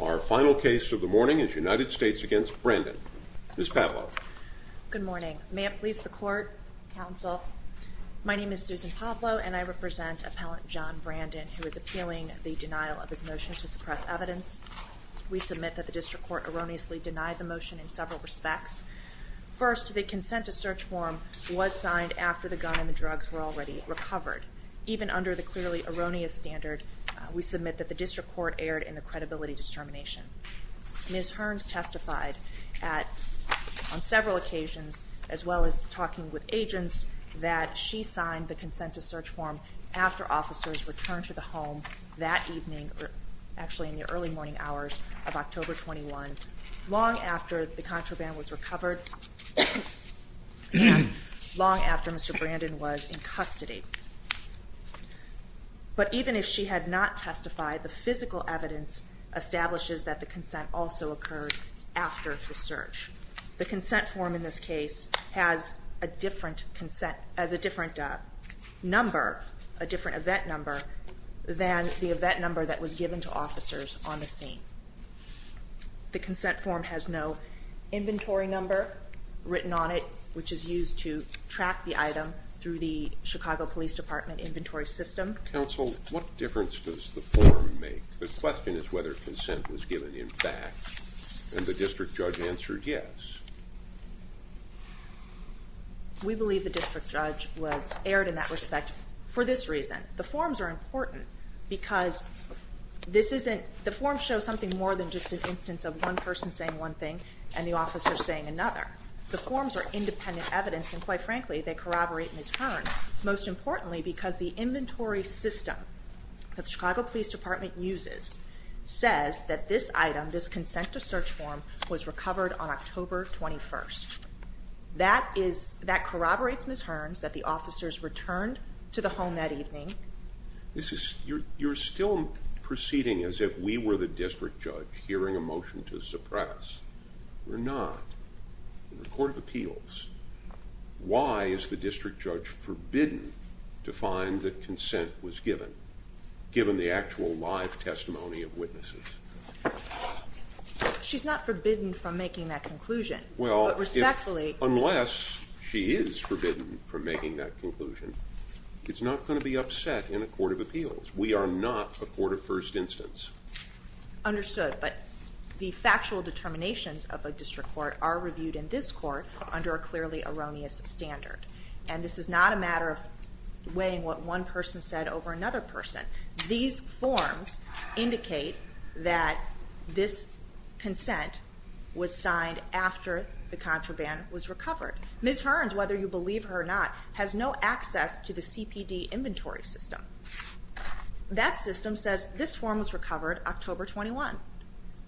Our final case of the morning is United States v. Brandon. Ms. Pavlo. Good morning. May it please the court, counsel, my name is Susan Pavlo and I represent appellant John Brandon who is appealing the denial of his motion to suppress evidence. We submit that the district court erroneously denied the motion in several respects. First, the consent to search form was signed after the gun and the drugs were already recovered. Even under the clearly erroneous standard, we submit that the district court erred in the credibility determination. Ms. Hearns testified on several occasions as well as talking with agents that she signed the consent to search form after officers returned to the home that evening, actually in the early morning hours of October 21, long after the contraband was recovered and long after Mr. Brandon was in custody. But even if she had not testified, the physical evidence establishes that the consent also occurred after the search. The consent form in this case has a different event number than the event number that was given to officers on the scene. The consent form has no inventory number written on it, which is used to track the item through the Chicago Police Department inventory system. Counsel, what difference does the form make? The question is whether consent was given in fact and the district judge answered yes. We believe the district judge was erred in that respect for this reason. The forms are important because the forms show something more than just an instance of one person saying one thing and the officer saying another. The forms are independent evidence and quite frankly they corroborate Ms. Hearns, most importantly because the inventory system that the Chicago Police Department uses says that this item, this consent to search form, was recovered on October 21. That corroborates Ms. Hearns that the officers returned to the home that evening. You're still proceeding as if we were the district judge hearing a motion to suppress. We're not. In the Court of Appeals, why is the district judge forbidden to find that consent was given, given the actual live testimony of witnesses? She's not forbidden from making that conclusion. Well, unless she is forbidden from making that conclusion, it's not going to be upset in a Court of Appeals. We are not a court of first instance. Understood, but the factual determinations of a district court are reviewed in this court under a clearly erroneous standard and this is not a matter of weighing what one person said over another person. These forms indicate that this consent was signed after the contraband was recovered. Ms. Hearns, whether you believe her or not, has no access to the CPD inventory system. That system says this form was recovered October 21.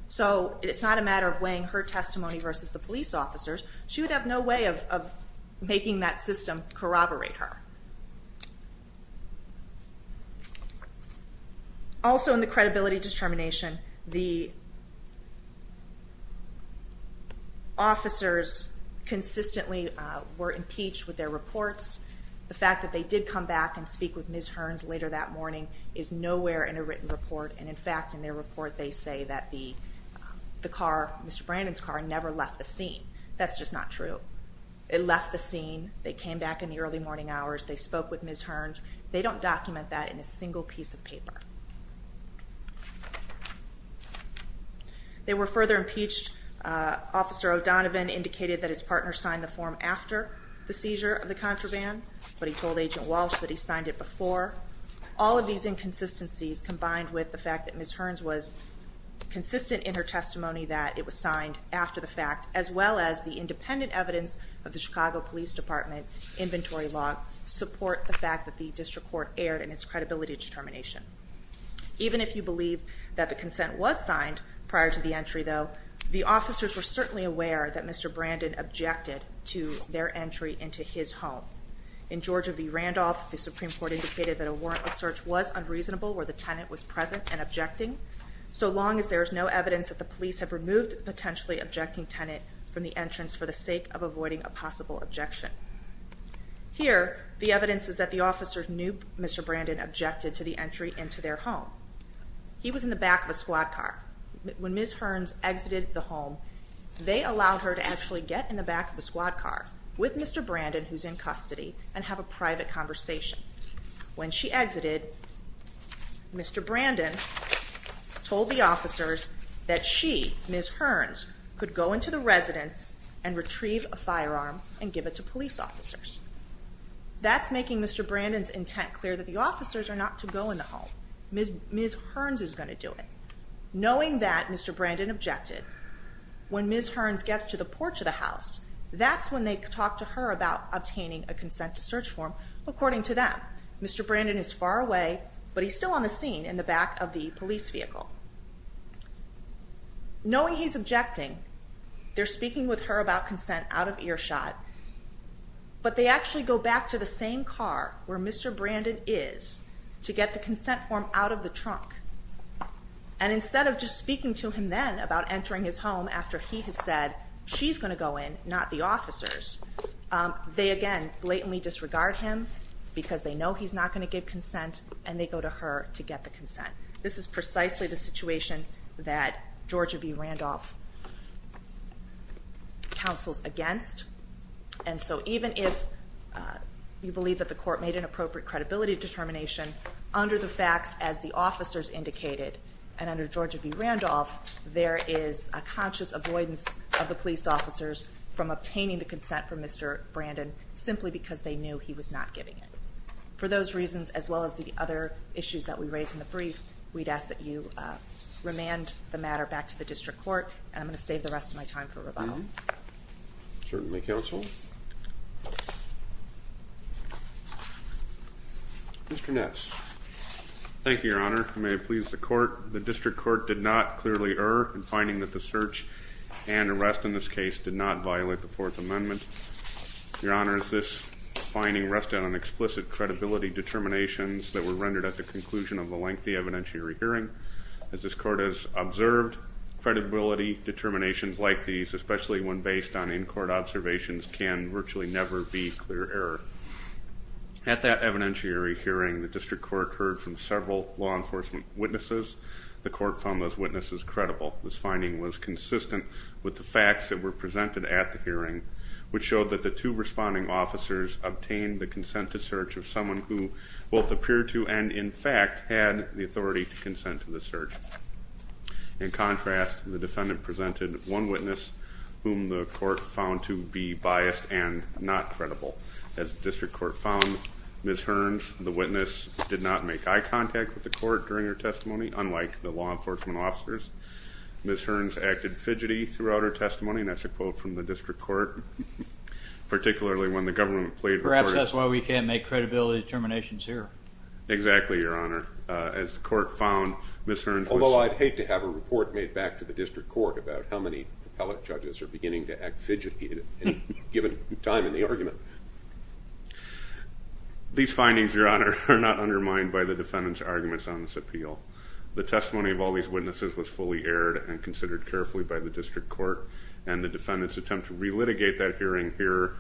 So it's not a matter of weighing her testimony versus the police officers. She would have no way of making that system corroborate her. Also in the credibility determination, the officers consistently were impeached with their reports. The fact that they did come back and speak with Ms. Hearns later that morning is nowhere in a written report and in fact in their report they say that the car, Mr. Brandon's car, never left the scene. That's just not true. It left the scene. They came back in the early morning hours. They spoke with Ms. Hearns. They don't document that in a single piece of paper. They were further impeached. Officer O'Donovan indicated that his partner signed the form after the seizure of the contraband, but he told Agent Walsh that he signed it before. All of these inconsistencies combined with the fact that Ms. Hearns was consistent in her testimony that it was signed after the fact, as well as the independent evidence of the Chicago Police Department inventory log, support the fact that the district court erred in its credibility determination. Even if you believe that the consent was signed prior to the entry though, the officers were certainly aware that Mr. Brandon objected to their entry into his home. In Georgia v. Randolph, the Supreme Court indicated that a warrantless search was unreasonable where the tenant was present and objecting, so long as there is no evidence that the police have removed the potentially objecting tenant from the entrance for the sake of avoiding a possible objection. Here, the evidence is that the officers knew Mr. Brandon objected to the entry into their home. He was in the back of a squad car. When Ms. Hearns exited the home, they allowed her to actually get in the back of the squad car with Mr. Brandon, who's in custody, and have a private conversation. When she exited, Mr. Brandon told the officers that she, Ms. Hearns, could go into the residence and retrieve a firearm and give it to police officers. That's making Mr. Brandon's intent clear that the officers are not to go in the home. Ms. Hearns is going to do it. Knowing that Mr. Brandon objected, when Ms. Hearns gets to the porch of the house, that's when they talk to her about obtaining a consent to search form according to them. Mr. Brandon is far away, but he's still on the scene in the back of the police vehicle. Knowing he's objecting, they're speaking with her about consent out of earshot, but they actually go back to the same car where Mr. Brandon is to get the consent form out of the trunk. Instead of just speaking to him then about entering his home after he has said she's going to go in, not the officers, they again blatantly disregard him because they know he's not going to give consent, and they go to her to get the consent. This is precisely the situation that And so even if you believe that the court made an appropriate credibility determination under the facts as the officers indicated, and under Georgia v. Randolph, there is a conscious avoidance of the police officers from obtaining the consent from Mr. Brandon simply because they knew he was not giving it. For those reasons, as well as the other issues that we raised in the brief, we'd ask that you remand the matter back to the district court, and I'm going to save the rest of my time for rebuttal. Certainly, counsel. Mr. Ness. Thank you, Your Honor. May it please the court. The district court did not clearly err in finding that the search and arrest in this case did not violate the Fourth Amendment. Your Honor, is this finding rested on explicit credibility determinations that were rendered at the conclusion of the lengthy evidentiary hearing? As this court has observed, credibility determinations like these, especially when based on in-court observations, can virtually never be clear error. At that evidentiary hearing, the district court heard from several law enforcement witnesses. The court found those witnesses credible. This finding was consistent with the facts that were presented at the hearing, which showed that the two responding officers obtained the consent to search of someone who both appeared to and, in fact, had the authority to consent to the search. In contrast, the defendant presented one witness whom the court found to be biased and not credible. As the district court found, Ms. Hearns, the witness did not make eye contact with the court during her testimony, unlike the law enforcement officers. Ms. Hearns acted fidgety throughout her testimony, and that's a quote from the district court, particularly when the government played record... Perhaps that's why we can't make credibility determinations here. Exactly, Your Honor. As the court found, Ms. Hearns was... Although I'd hate to have a report made back to the district court about how many appellate judges are beginning to act fidgety at any given time in the argument. These findings, Your Honor, are not undermined by the defendant's arguments on this appeal. The testimony of all these witnesses was fully aired and considered carefully by the district court, and the defendant's attempt to relitigate that hearing here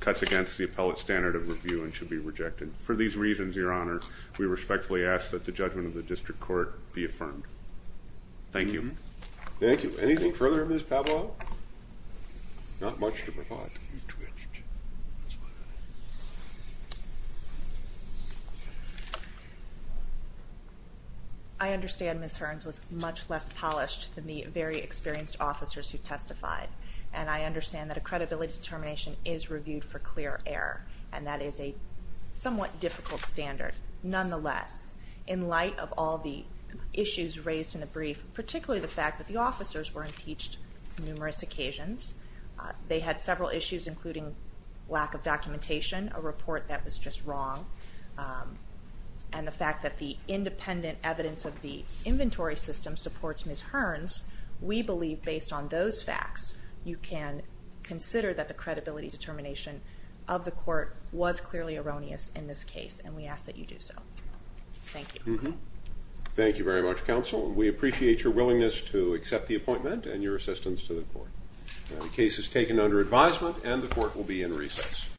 cuts against the appellate standard of review and should be rejected. For these reasons, Your Honor, we respectfully ask that the judgment of the district court be affirmed. Thank you. Thank you. Anything further, Ms. Pavlov? Not much to provide. You twitched. I understand Ms. Hearns was much less polished than the very experienced officers who testified, and I understand that a credibility determination is reviewed for clear error, and that is a somewhat difficult standard. Nonetheless, in light of all the issues raised in the brief, particularly the fact that the officers were impeached on numerous occasions, they had several issues, including lack of documentation, a report that was just wrong, and the fact that the independent evidence of the inventory system supports Ms. Hearns. We believe, based on those facts, you can consider that the credibility determination of the court was clearly erroneous in this case, and we ask that you do so. Thank you. Thank you very much, Counsel. We appreciate your willingness to accept the appointment and your assistance to the court. The case is taken under advisement and the court will be in recess.